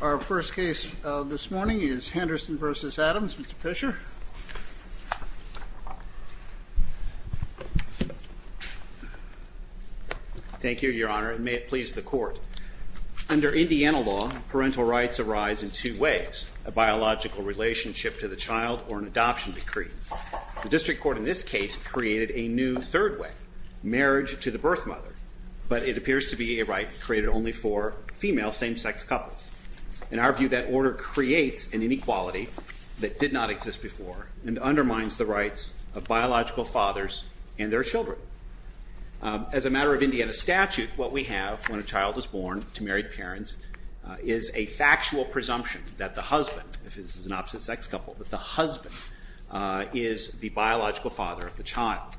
Our first case this morning is Henderson v. Adams. Mr. Fischer. Thank you, Your Honor, and may it please the Court. Under Indiana law, parental rights arise in two ways, a biological relationship to the child or an adoption decree. The district court in this case created a new third way, marriage to the birth mother, but it appears to be a right created only for female same-sex couples. In our view, that order creates an inequality that did not exist before and undermines the rights of biological fathers and their children. As a matter of Indiana statute, what we have when a child is born to married parents is a factual presumption that the husband, if it's an opposite-sex couple, that the husband is the biological father of the child.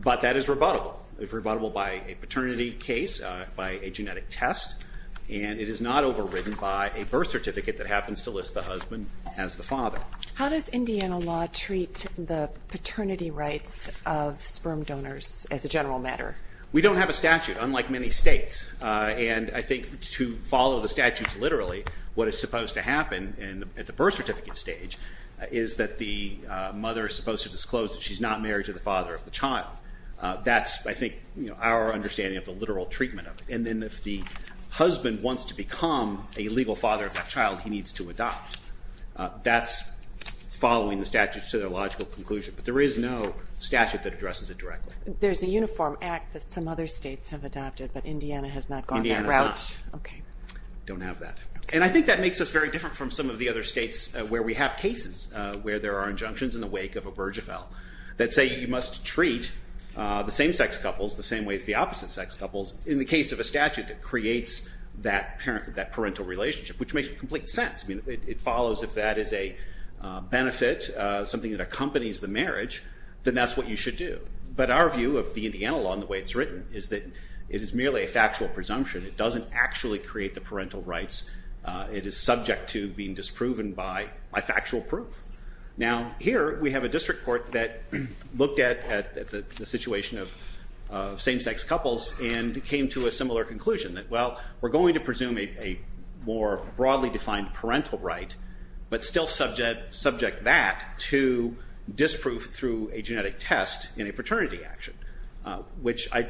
But that is rebuttable. It's rebuttable by a paternity case, by a genetic test, and it is not overridden by a birth certificate that happens to list the husband as the father. How does Indiana law treat the paternity rights of sperm donors as a general matter? We don't have a statute, unlike many states. And I think to follow the statutes literally, what is supposed to happen at the birth certificate stage is that the mother is supposed to disclose that she's not married to the father of the child. That's, I think, our understanding of the literal treatment of it. And then if the husband wants to become a legal father of that child, he needs to adopt. That's following the statute to their logical conclusion. But there is no statute that addresses it directly. There's a uniform act that some other states have adopted, but Indiana has not gone that route? Indiana has not. Okay. Don't have that. And I think that makes us very different from some of the other states where we have cases where there are injunctions in the wake of a Burgeville that say you must treat the same-sex couples the same way as the opposite-sex couples in the case of a statute that creates that parental relationship, which makes complete sense. It follows if that is a benefit, something that accompanies the marriage, then that's what you should do. But our view of the Indiana law and the way it's written is that it is merely a factual presumption. It doesn't actually create the parental rights. It is subject to being disproven by factual proof. Now, here we have a district court that looked at the situation of same-sex couples and came to a similar conclusion that, well, we're going to presume a more broadly defined parental right, but still subject that to disproof through a genetic test in a paternity action, which I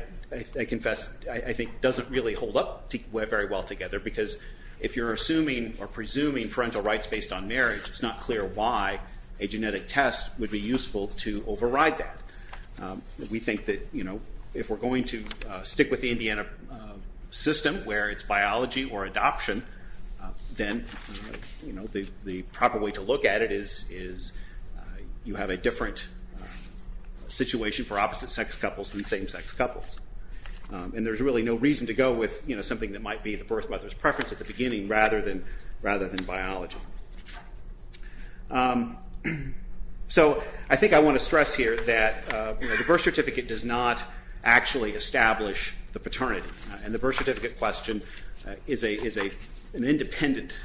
confess I think doesn't really hold up very well together, because if you're assuming or presuming parental rights based on marriage, it's not clear why a genetic test would be useful to override that. We think that if we're going to stick with the Indiana system where it's biology or adoption, then the proper way to look at it is you have a different situation for opposite-sex couples than same-sex couples. And there's really no reason to go with something that might be the birth mother's preference at the beginning rather than biology. So I think I want to stress here that the birth certificate does not actually establish the paternity, and the birth certificate question is an independent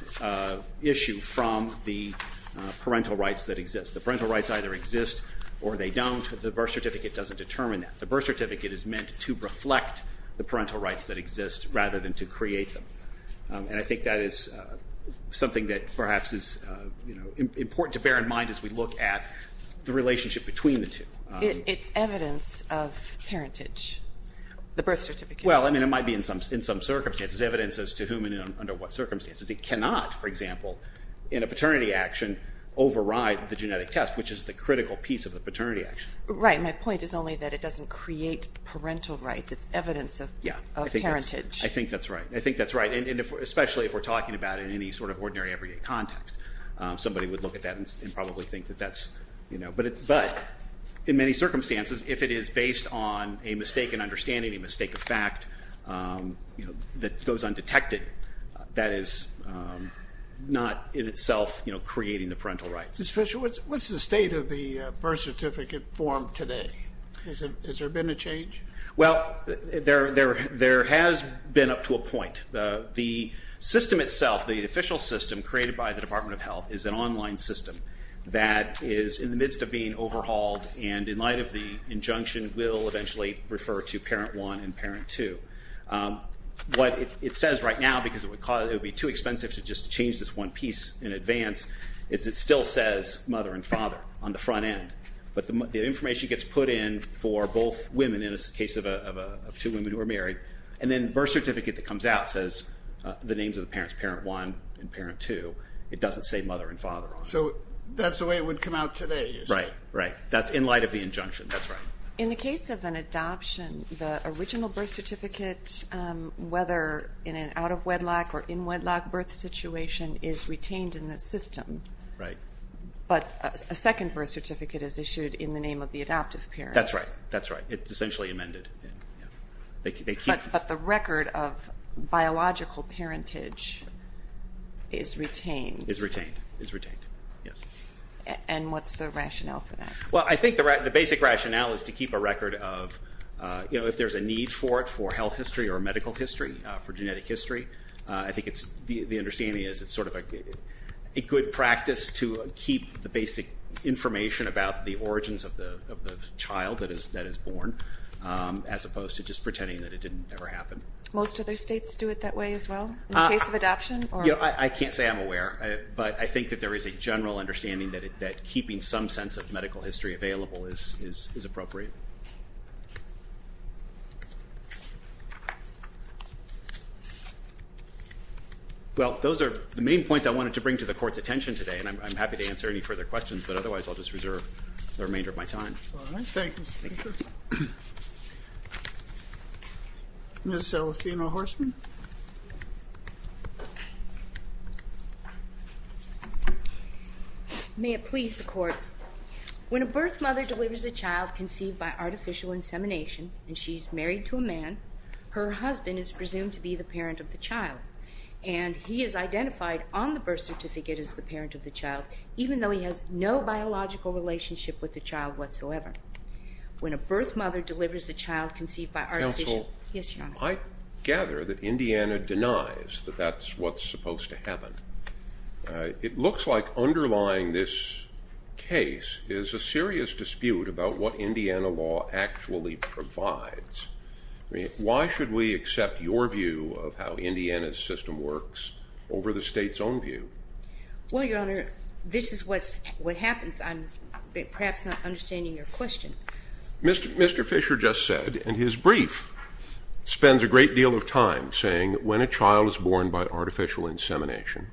issue from the parental rights that exist. The parental rights either exist or they don't. The birth certificate doesn't determine that. The birth certificate is meant to reflect the parental rights that exist rather than to create them. And I think that is something that perhaps is important to bear in mind as we look at the relationship between the two. It's evidence of parentage, the birth certificate. Well, I mean, it might be in some circumstances evidence as to whom and under what circumstances. It cannot, for example, in a paternity action, override the genetic test, which is the critical piece of the paternity action. Right. My point is only that it doesn't create parental rights. It's evidence of parentage. I think that's right. I think that's right, especially if we're talking about it in any sort of ordinary everyday context. Somebody would look at that and probably think that that's, you know. But in many circumstances, if it is based on a mistaken understanding, a mistake of fact that goes undetected, that is not in itself creating the parental rights. Mr. Fisher, what's the state of the birth certificate form today? Has there been a change? The system itself, the official system created by the Department of Health, is an online system that is in the midst of being overhauled and in light of the injunction will eventually refer to parent one and parent two. What it says right now, because it would be too expensive to just change this one piece in advance, is it still says mother and father on the front end. But the information gets put in for both women, in the case of two women who are married. And then the birth certificate that comes out says the names of the parents, parent one and parent two. It doesn't say mother and father. So that's the way it would come out today? Right, right. That's in light of the injunction. That's right. In the case of an adoption, the original birth certificate, whether in an out-of-wedlock or in-wedlock birth situation, is retained in the system. Right. But a second birth certificate is issued in the name of the adoptive parents. That's right. That's right. It's essentially amended. But the record of biological parentage is retained. It's retained. It's retained, yes. And what's the rationale for that? Well, I think the basic rationale is to keep a record of, you know, if there's a need for it for health history or medical history, for genetic history, I think the understanding is it's sort of a good practice to keep the basic information about the origins of the child that is born as opposed to just pretending that it didn't ever happen. Most other states do it that way as well in the case of adoption? I can't say I'm aware, but I think that there is a general understanding that keeping some sense of medical history available is appropriate. Well, those are the main points I wanted to bring to the Court's attention today, and I'm happy to answer any further questions, but otherwise I'll just reserve the remainder of my time. All right. Thank you, Mr. Speaker. Ms. Celestino-Horseman? May it please the Court. When a birth mother delivers a child conceived by artificial insemination and she's married to a man, her husband is presumed to be the parent of the child, and he is identified on the birth certificate as the parent of the child, even though he has no biological relationship with the child whatsoever. When a birth mother delivers a child conceived by artificial... Counsel? Yes, Your Honor. I gather that Indiana denies that that's what's supposed to happen. It looks like underlying this case is a serious dispute about what Indiana law actually provides. Why should we accept your view of how Indiana's system works over the state's own view? Well, Your Honor, this is what happens. I'm perhaps not understanding your question. Mr. Fisher just said in his brief, spends a great deal of time saying when a child is born by artificial insemination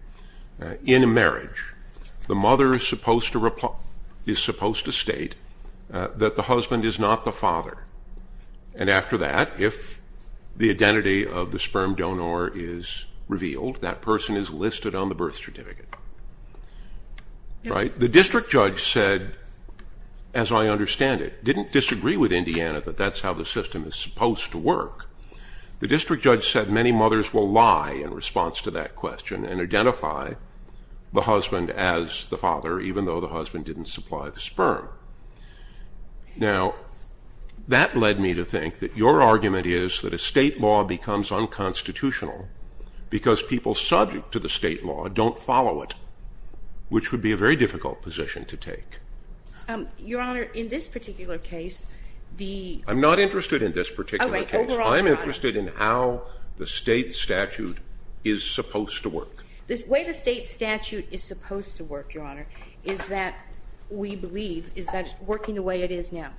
in a marriage, the mother is supposed to state that the husband is not the father, and after that, if the identity of the sperm donor is revealed, that person is listed on the birth certificate. The district judge said, as I understand it, didn't disagree with Indiana that that's how the system is supposed to work. The district judge said many mothers will lie in response to that question and identify the husband as the father, even though the husband didn't supply the sperm. Now, that led me to think that your argument is that a state law becomes unconstitutional because people subject to the state law don't follow it, which would be a very difficult position to take. Your Honor, in this particular case, the... I'm not interested in this particular case. I'm interested in how the state statute is supposed to work. The way the state statute is supposed to work, Your Honor, is that we believe is that it's working the way it is now.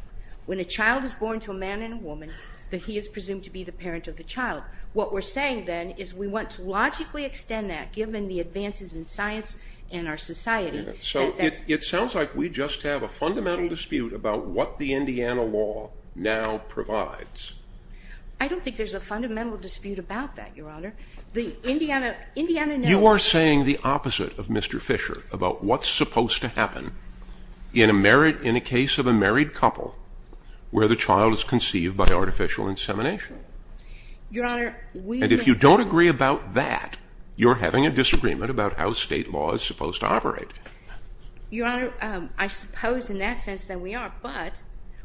When a child is born to a man and a woman, that he is presumed to be the parent of the child. What we're saying then is we want to logically extend that, given the advances in science and our society. So it sounds like we just have a fundamental dispute about what the Indiana law now provides. I don't think there's a fundamental dispute about that, Your Honor. The Indiana... You are saying the opposite of Mr. Fisher about what's supposed to happen in a case of a married couple where the child is conceived by artificial insemination. Your Honor, we... And if you don't agree about that, you're having a disagreement about how state law is supposed to operate. Your Honor, I suppose in that sense that we are, but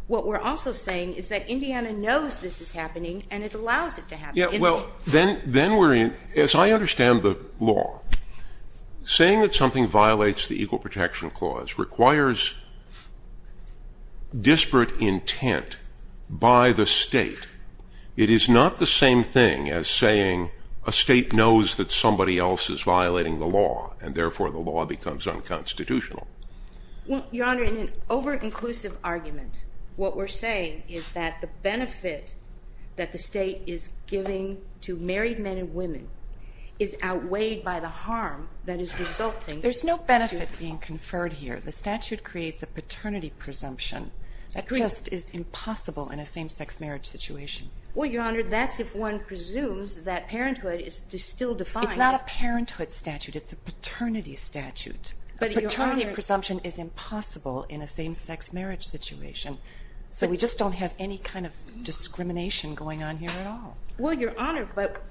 what we're also saying is that Indiana knows this is happening and it allows it to happen. Yeah, well, then we're in... As I understand the law, saying that something violates the Equal Protection Clause requires disparate intent by the state. It is not the same thing as saying a state knows that somebody else is violating the law and therefore the law becomes unconstitutional. Your Honor, in an over-inclusive argument, what we're saying is that the benefit that the state is giving to married men and women is outweighed by the harm that is resulting... There's no benefit being conferred here. The statute creates a paternity presumption that just is impossible in a same-sex marriage situation. Well, Your Honor, that's if one presumes that parenthood is still defined. It's not a parenthood statute. It's a paternity statute. A paternity presumption is impossible in a same-sex marriage situation. So we just don't have any kind of discrimination going on here at all. Well, Your Honor, but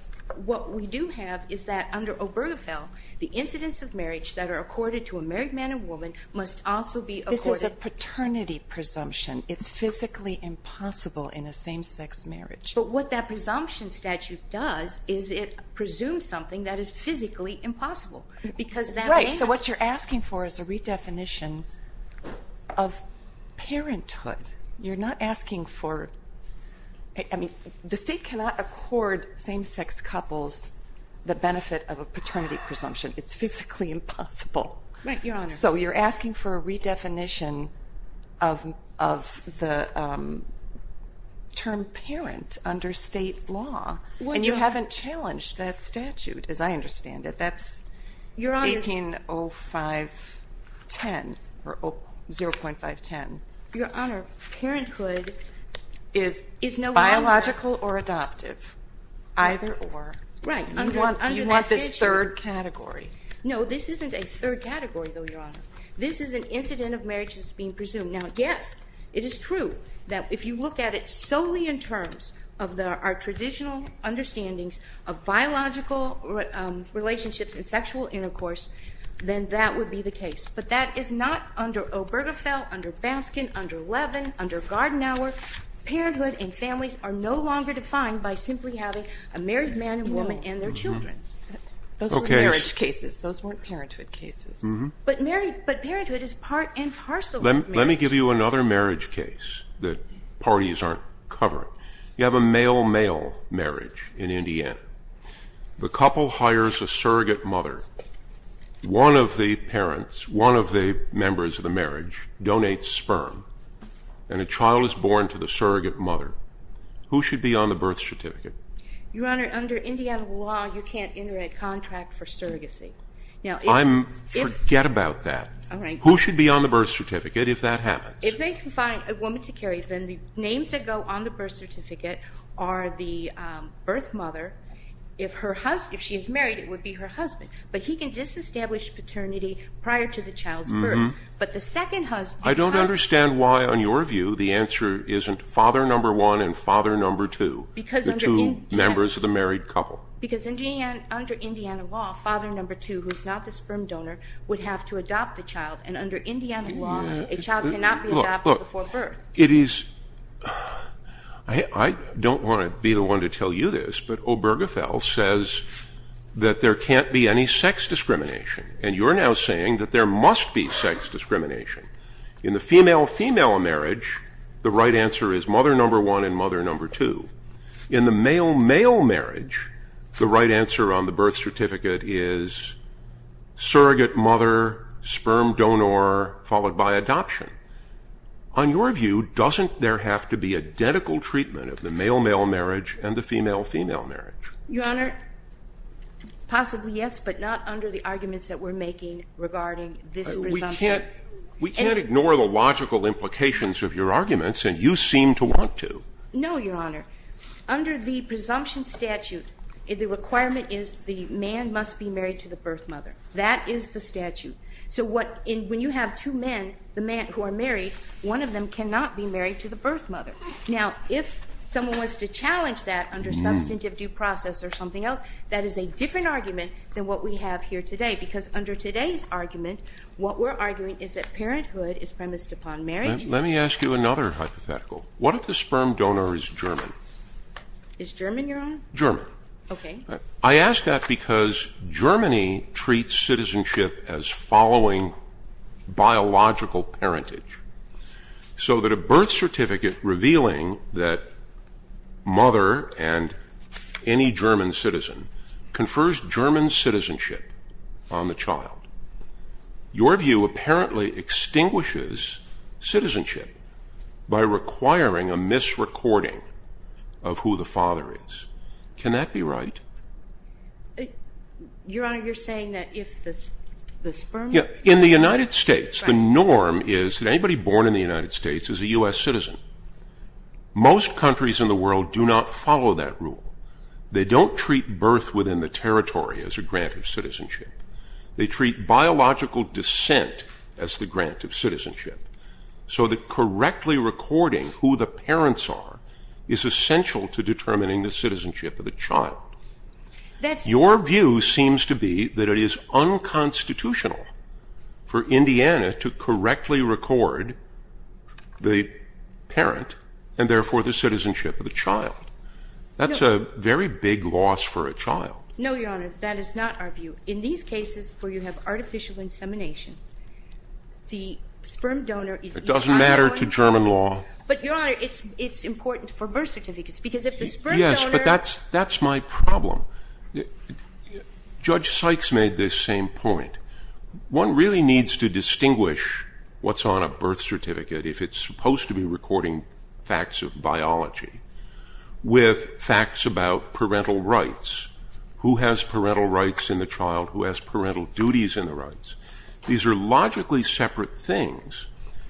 what we do have is that under Obergefell, the incidents of marriage that are accorded to a married man and woman must also be accorded... This is a paternity presumption. It's physically impossible in a same-sex marriage. But what that presumption statute does is it presumes something that is physically impossible Right, so what you're asking for is a redefinition of parenthood. You're not asking for... I mean, the state cannot accord same-sex couples the benefit of a paternity presumption. It's physically impossible. So you're asking for a redefinition of the term parent under state law. And you haven't challenged that statute, as I understand it. That's 180510, or 0.510. Your Honor, parenthood is no longer... Biological or adoptive, either or. Right, under that statute. You want this third category. No, this isn't a third category, though, Your Honor. This is an incident of marriage that's being presumed. Now, yes, it is true that if you look at it solely in terms of our traditional understandings of biological relationships and sexual intercourse, then that would be the case. But that is not under Obergefell, under Baskin, under Levin, under Gardenauer. Parenthood and families are no longer defined by simply having a married man and woman and their children. Those were marriage cases. Those weren't parenthood cases. But parenthood is part and parcel of marriage. Let me give you another marriage case that parties aren't covering. You have a male-male marriage in Indiana. The couple hires a surrogate mother. One of the parents, one of the members of the marriage, donates sperm, and a child is born to the surrogate mother. Who should be on the birth certificate? Your Honor, under Indiana law, you can't enter a contract for surrogacy. Now, if... Forget about that. All right. Who should be on the birth certificate if that happens? If they can find a woman to carry, then the names that go on the birth certificate are the birth mother. If she is married, it would be her husband. But he can disestablish paternity prior to the child's birth. But the second husband... I don't understand why, on your view, the answer isn't father number one and father number two, the two members of the married couple. Because under Indiana law, father number two, who is not the sperm donor, would have to adopt the child. And under Indiana law, a child cannot be adopted before birth. Look, it is... I don't want to be the one to tell you this, but Obergefell says that there can't be any sex discrimination. And you're now saying that there must be sex discrimination. In the female-female marriage, the right answer is mother number one and mother number two. In the male-male marriage, the right answer on the birth certificate is surrogate mother, sperm donor, followed by adoption. On your view, doesn't there have to be a detical treatment of the male-male marriage and the female-female marriage? Your Honor, possibly yes, but not under the arguments that we're making regarding this presumption. We can't ignore the logical implications of your arguments, and you seem to want to. No, Your Honor. Under the presumption statute, the requirement is the man must be married to the birth mother. That is the statute. So when you have two men who are married, one of them cannot be married to the birth mother. Now, if someone wants to challenge that under substantive due process or something else, that is a different argument than what we have here today, because under today's argument, what we're arguing is that parenthood is premised upon marriage. What if the sperm donor is German? Is German, Your Honor? German. Okay. I ask that because Germany treats citizenship as following biological parentage, so that a birth certificate revealing that mother and any German citizen confers German citizenship on the child. Your view apparently extinguishes citizenship by requiring a misrecording of who the father is. Can that be right? Your Honor, you're saying that if the sperm? In the United States, the norm is that anybody born in the United States is a U.S. citizen. Most countries in the world do not follow that rule. They don't treat birth within the territory as a grant of citizenship. They treat biological descent as the grant of citizenship, so that correctly recording who the parents are is essential to determining the citizenship of the child. Your view seems to be that it is unconstitutional for Indiana to correctly record the parent and therefore the citizenship of the child. That's a very big loss for a child. No, Your Honor, that is not our view. In these cases where you have artificial insemination, the sperm donor is either not going to... It doesn't matter to German law. But, Your Honor, it's important for birth certificates because if the sperm donor... Yes, but that's my problem. Judge Sykes made this same point. One really needs to distinguish what's on a birth certificate if it's supposed to be recording facts of biology with facts about parental rights. Who has parental rights in the child? Who has parental duties in the rights? These are logically separate things,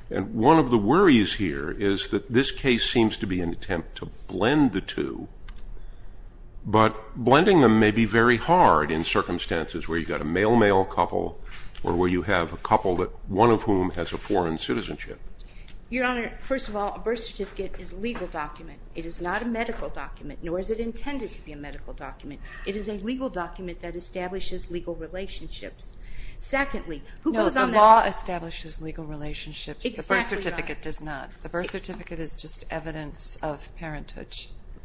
and one of the worries here is that this case seems to be an attempt to blend the two, but blending them may be very hard in circumstances where you've got a male-male couple or where you have a couple, one of whom has a foreign citizenship. Your Honor, first of all, a birth certificate is a legal document. It is not a medical document, nor is it intended to be a medical document. It is a legal document that establishes legal relationships. Secondly, who goes on that birth certificate? No, the law establishes legal relationships. The birth certificate does not. The birth certificate is just evidence of parenthood.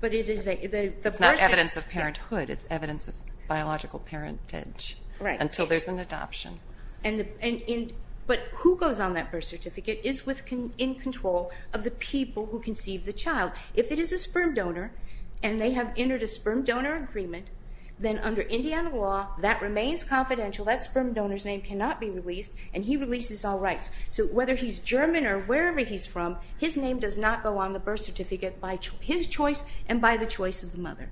But it is a... It's not evidence of parenthood. It's evidence of biological parentage until there's an adoption. But who goes on that birth certificate is in control of the people who conceive the child. If it is a sperm donor and they have entered a sperm donor agreement, then under Indiana law, that remains confidential. That sperm donor's name cannot be released, and he releases all rights. So whether he's German or wherever he's from, his name does not go on the birth certificate by his choice and by the choice of the mother.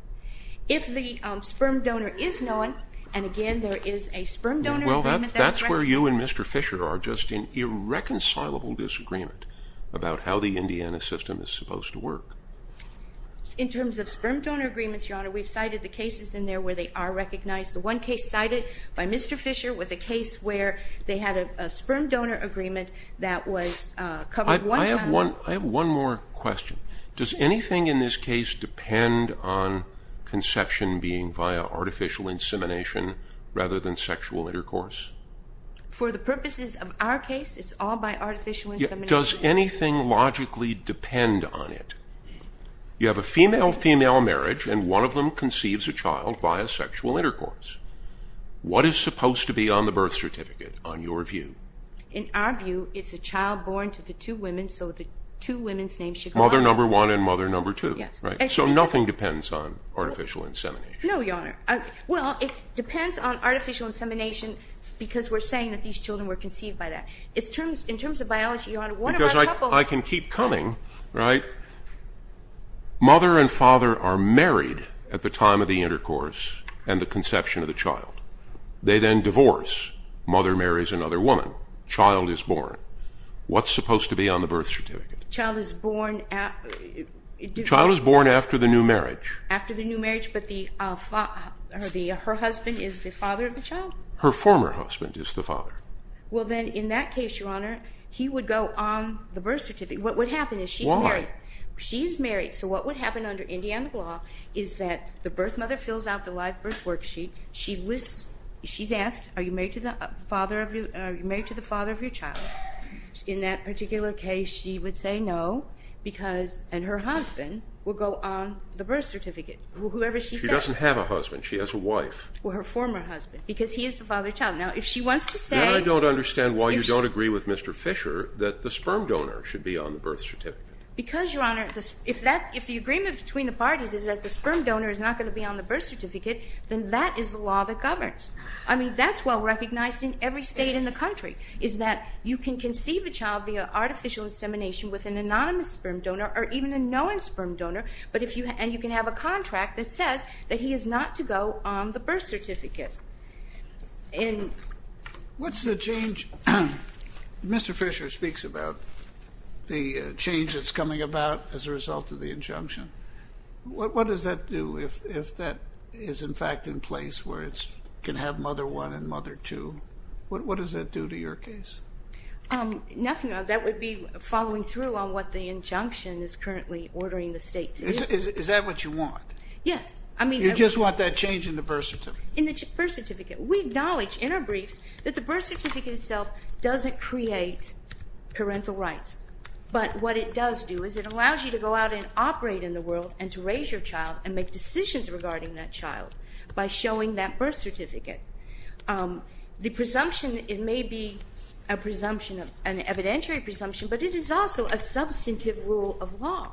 If the sperm donor is known, and, again, there is a sperm donor agreement... Well, that's where you and Mr. Fisher are, just in irreconcilable disagreement about how the Indiana system is supposed to work. In terms of sperm donor agreements, Your Honor, we've cited the cases in there where they are recognized. The one case cited by Mr. Fisher was a case where they had a sperm donor agreement that was covered one time... I have one more question. Does anything in this case depend on conception being via artificial insemination rather than sexual intercourse? For the purposes of our case, it's all by artificial insemination. Does anything logically depend on it? You have a female-female marriage, and one of them conceives a child via sexual intercourse. What is supposed to be on the birth certificate, on your view? In our view, it's a child born to the two women, so the two women's names should go on... Mother number one and mother number two, right? So nothing depends on artificial insemination. No, Your Honor. Well, it depends on artificial insemination because we're saying that these children were conceived by that. In terms of biology, Your Honor, one of our couples... Because I can keep coming, right? Mother and father are married at the time of the intercourse and the conception of the child. They then divorce. Mother marries another woman. Child is born. What's supposed to be on the birth certificate? Child is born... Child is born after the new marriage. After the new marriage, but her husband is the father of the child? Her former husband is the father. Well, then, in that case, Your Honor, he would go on the birth certificate. What would happen is she's married. Why? She's married, so what would happen under Indiana law is that the birth mother fills out the live birth worksheet. She's asked, Are you married to the father of your child? In that particular case, she would say no, and her husband would go on the birth certificate, whoever she says. She doesn't have a husband. She has a wife. Well, her former husband, because he is the father of the child. Now, if she wants to say... Then I don't understand why you don't agree with Mr. Fisher that the sperm donor should be on the birth certificate. Because, Your Honor, if the agreement between the parties is that the sperm donor is not going to be on the birth certificate, then that is the law that governs. I mean, that's well recognized in every state in the country, is that you can conceive a child via artificial insemination with an anonymous sperm donor or even a known sperm donor, and you can have a contract that says that he is not to go on the birth certificate. And... Mr. Fisher speaks about the change that's coming about as a result of the injunction. What does that do if that is, in fact, in place where it can have mother 1 and mother 2? What does that do to your case? Nothing. That would be following through on what the injunction is currently ordering the state to do. Is that what you want? Yes. You just want that change in the birth certificate? In the birth certificate. We acknowledge in our briefs that the birth certificate itself doesn't create parental rights, but what it does do is it allows you to go out and operate in the world and to raise your child and make decisions regarding that child by showing that birth certificate. The presumption, it may be a presumption, an evidentiary presumption, but it is also a substantive rule of law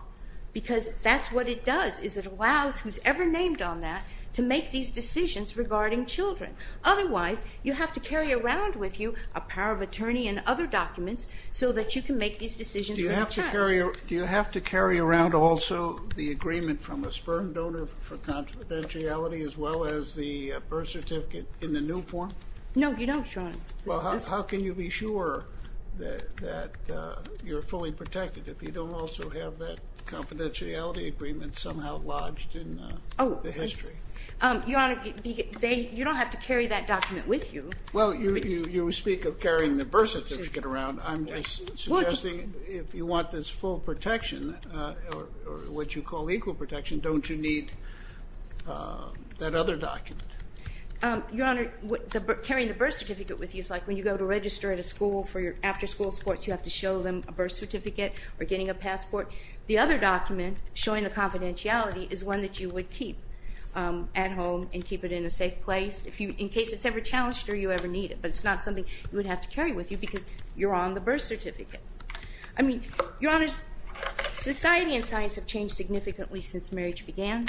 because that's what it does, is it allows who's ever named on that to make these decisions regarding children. Otherwise, you have to carry around with you a power of attorney and other documents so that you can make these decisions for your child. Do you have to carry around also the agreement from a sperm donor for confidentiality as well as the birth certificate in the new form? No, you don't, Your Honor. Well, how can you be sure that you're fully protected if you don't also have that confidentiality agreement somehow lodged in the history? Your Honor, you don't have to carry that document with you. Well, you speak of carrying the birth certificate around. I'm suggesting if you want this full protection or what you call equal protection, don't you need that other document? Your Honor, carrying the birth certificate with you is like when you go to register at a school for your after-school sports, you have to show them a birth certificate or getting a passport. The other document showing the confidentiality is one that you would keep at home and keep it in a safe place in case it's ever challenged or you ever need it, but it's not something you would have to carry with you because you're on the birth certificate. I mean, Your Honors, society and science have changed significantly since marriage began.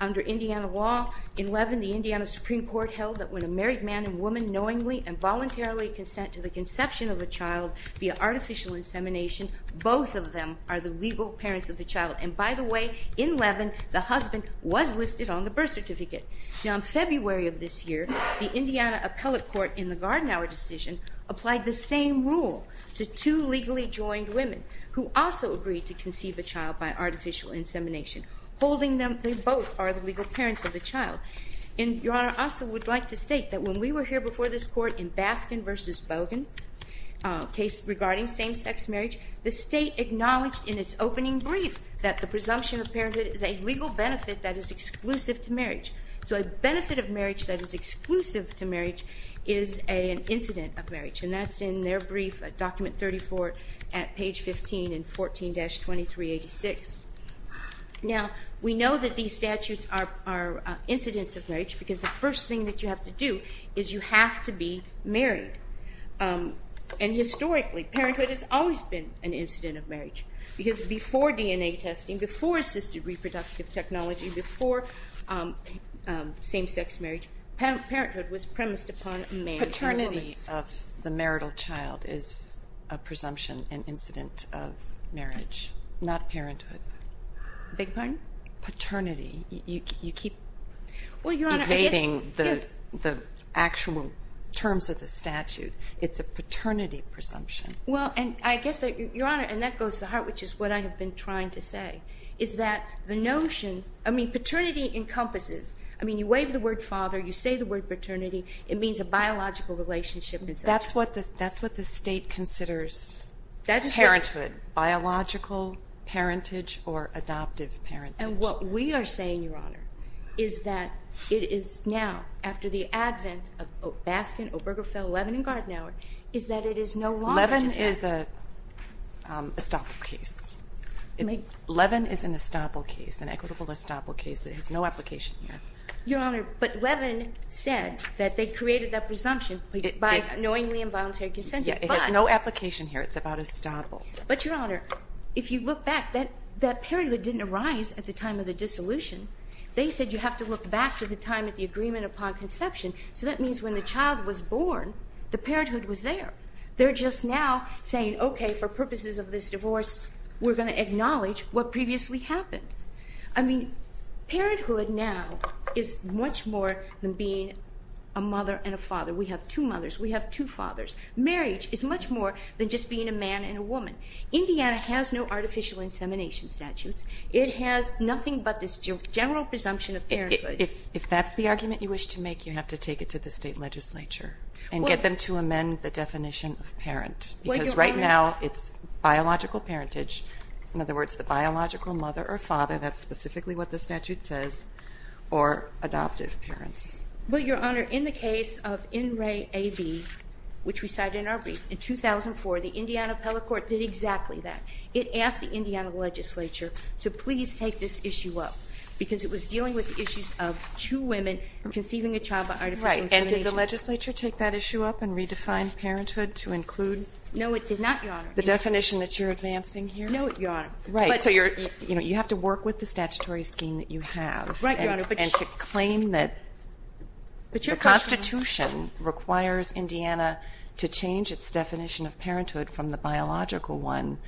Under Indiana law, in Levin, the Indiana Supreme Court held that when a married man and woman knowingly and voluntarily consent to the conception of a child via artificial insemination, both of them are the legal parents of the child. And by the way, in Levin, the husband was listed on the birth certificate. Now, in February of this year, the Indiana Appellate Court in the Garden Hour decision applied the same rule to two legally joined women who also agreed to conceive a child by artificial insemination, holding them, they both are the legal parents of the child. And Your Honor, I also would like to state that when we were here before this Court in Baskin v. Bogan, a case regarding same-sex marriage, the state acknowledged in its opening brief that the presumption of parenthood is a legal benefit that is exclusive to marriage. So a benefit of marriage that is exclusive to marriage is an incident of marriage. And that's in their brief at Document 34 at page 15 in 14-2386. Now, we know that these statutes are incidents of marriage because the first thing that you have to do is you have to be married. And historically, parenthood has always been an incident of marriage because before DNA testing, before assisted reproductive technology, before same-sex marriage, parenthood was premised upon a man and a woman. Paternity of the marital child is a presumption, an incident of marriage, not parenthood. Beg your pardon? Paternity. You keep evading the actual terms of the statute. It's a paternity presumption. Well, and I guess, Your Honor, and that goes to the heart, which is what I have been trying to say, is that the notion, I mean, paternity encompasses, I mean, you wave the word father, you say the word paternity, it means a biological relationship. That's what the state considers parenthood, biological parentage or adoptive parentage. And what we are saying, Your Honor, is that it is now, after the advent of Baskin, Obergefell, Levin, and Gardner, is that it is no longer. Levin is a estoppel case. Levin is an estoppel case, an equitable estoppel case. It has no application here. Your Honor, but Levin said that they created that presumption by knowingly involuntary consent. It has no application here. It's about estoppel. But, Your Honor, if you look back, that parenthood didn't arise at the time of the dissolution. They said you have to look back to the time of the agreement upon conception. So that means when the child was born, the parenthood was there. They're just now saying, okay, for purposes of this divorce, we're going to acknowledge what previously happened. I mean, parenthood now is much more than being a mother and a father. We have two mothers. We have two fathers. Marriage is much more than just being a man and a woman. Indiana has no artificial insemination statutes. It has nothing but this general presumption of parenthood. If that's the argument you wish to make, you have to take it to the State Legislature and get them to amend the definition of parent. Because right now it's biological parentage. In other words, the biological mother or father, that's specifically what the statute says, or adoptive parents. Well, Your Honor, in the case of In Re A B, which we cited in our brief, in 2004, the Indiana appellate court did exactly that. It asked the Indiana legislature to please take this issue up, because it was dealing with issues of two women conceiving a child by artificial insemination. Right. And did the legislature take that issue up and redefine parenthood to include? No, it did not, Your Honor. The definition that you're advancing here? No, Your Honor. Right. So you have to work with the statutory scheme that you have. Right, Your Honor. And to claim that the Constitution requires Indiana to change its definition of parenthood from the biological one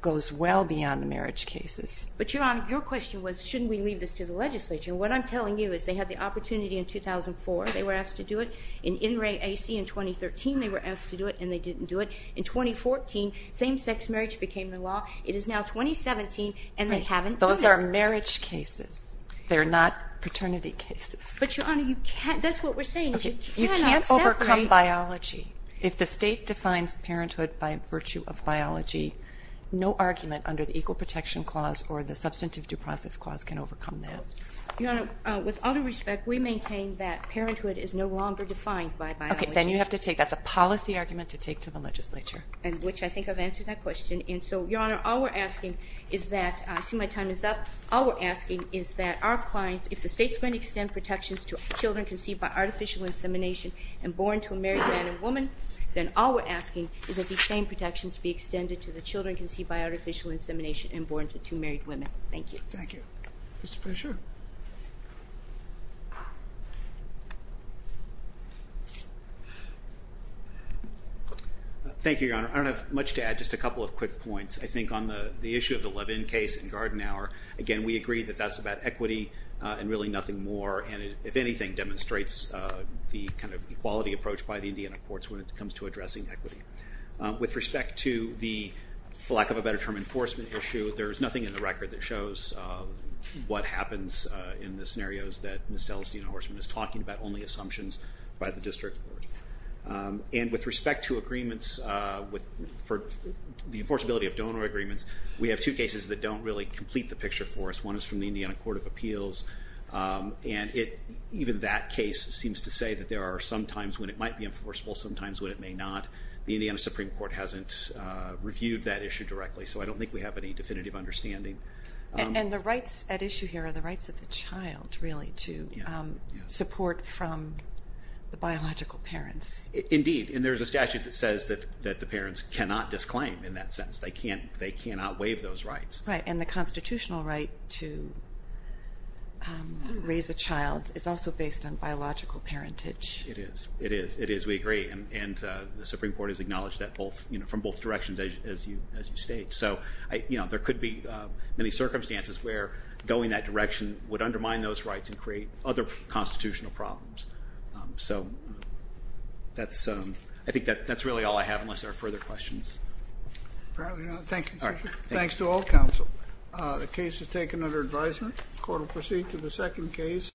goes well beyond the marriage cases. But, Your Honor, your question was, shouldn't we leave this to the legislature? And what I'm telling you is they had the opportunity in 2004. They were asked to do it. In In Re A C in 2013, they were asked to do it, and they didn't do it. In 2014, same-sex marriage became the law. It is now 2017, and they haven't done it. Right. Those are marriage cases. They're not paternity cases. But, Your Honor, that's what we're saying. You cannot separate. You can't overcome biology. If the state defines parenthood by virtue of biology, no argument under the Equal Protection Clause or the Substantive Due Process Clause can overcome that. Your Honor, with all due respect, we maintain that parenthood is no longer defined by biology. Okay. Then you have to take that. That's a policy argument to take to the legislature. And which I think I've answered that question. And so, Your Honor, all we're asking is that ‑‑ I see my time is up. All we're asking is that our clients, if the state's going to extend protections to children conceived by artificial insemination and born to a married man and woman, then all we're asking is that these same protections be extended to the children conceived by artificial insemination and born to two married women. Thank you. Thank you. Mr. Fischer? Thank you, Your Honor. I don't have much to add, just a couple of quick points. I think on the issue of the Levin case and Garden Hour, again, we agree that that's about equity and really nothing more. And it, if anything, demonstrates the kind of equality approach by the Indiana courts when it comes to addressing equity. With respect to the, for lack of a better term, enforcement issue, there's nothing in the record that shows what happens in the scenarios that Ms. Stellastine Horstman is talking about, only assumptions by the district court. And with respect to agreements for the enforceability of donor agreements, we have two cases that don't really complete the picture for us. One is from the Indiana Court of Appeals. And even that case seems to say that there are sometimes when it might be enforceable, sometimes when it may not. The Indiana Supreme Court hasn't reviewed that issue directly, so I don't think we have any definitive understanding. And the rights at issue here are the rights of the child, really, to support from the biological parents. Indeed. And there's a statute that says that the parents cannot disclaim, in that sense. They cannot waive those rights. Right. And the constitutional right to raise a child is also based on biological parentage. It is. It is. It is. We agree. And the Supreme Court has acknowledged that from both directions, as you state. So there could be many circumstances where going that direction would undermine those rights and create other constitutional problems. So I think that's really all I have, unless there are further questions. Thank you. All right. Thanks to all counsel. The case is taken under advisement. Court will proceed to the second case.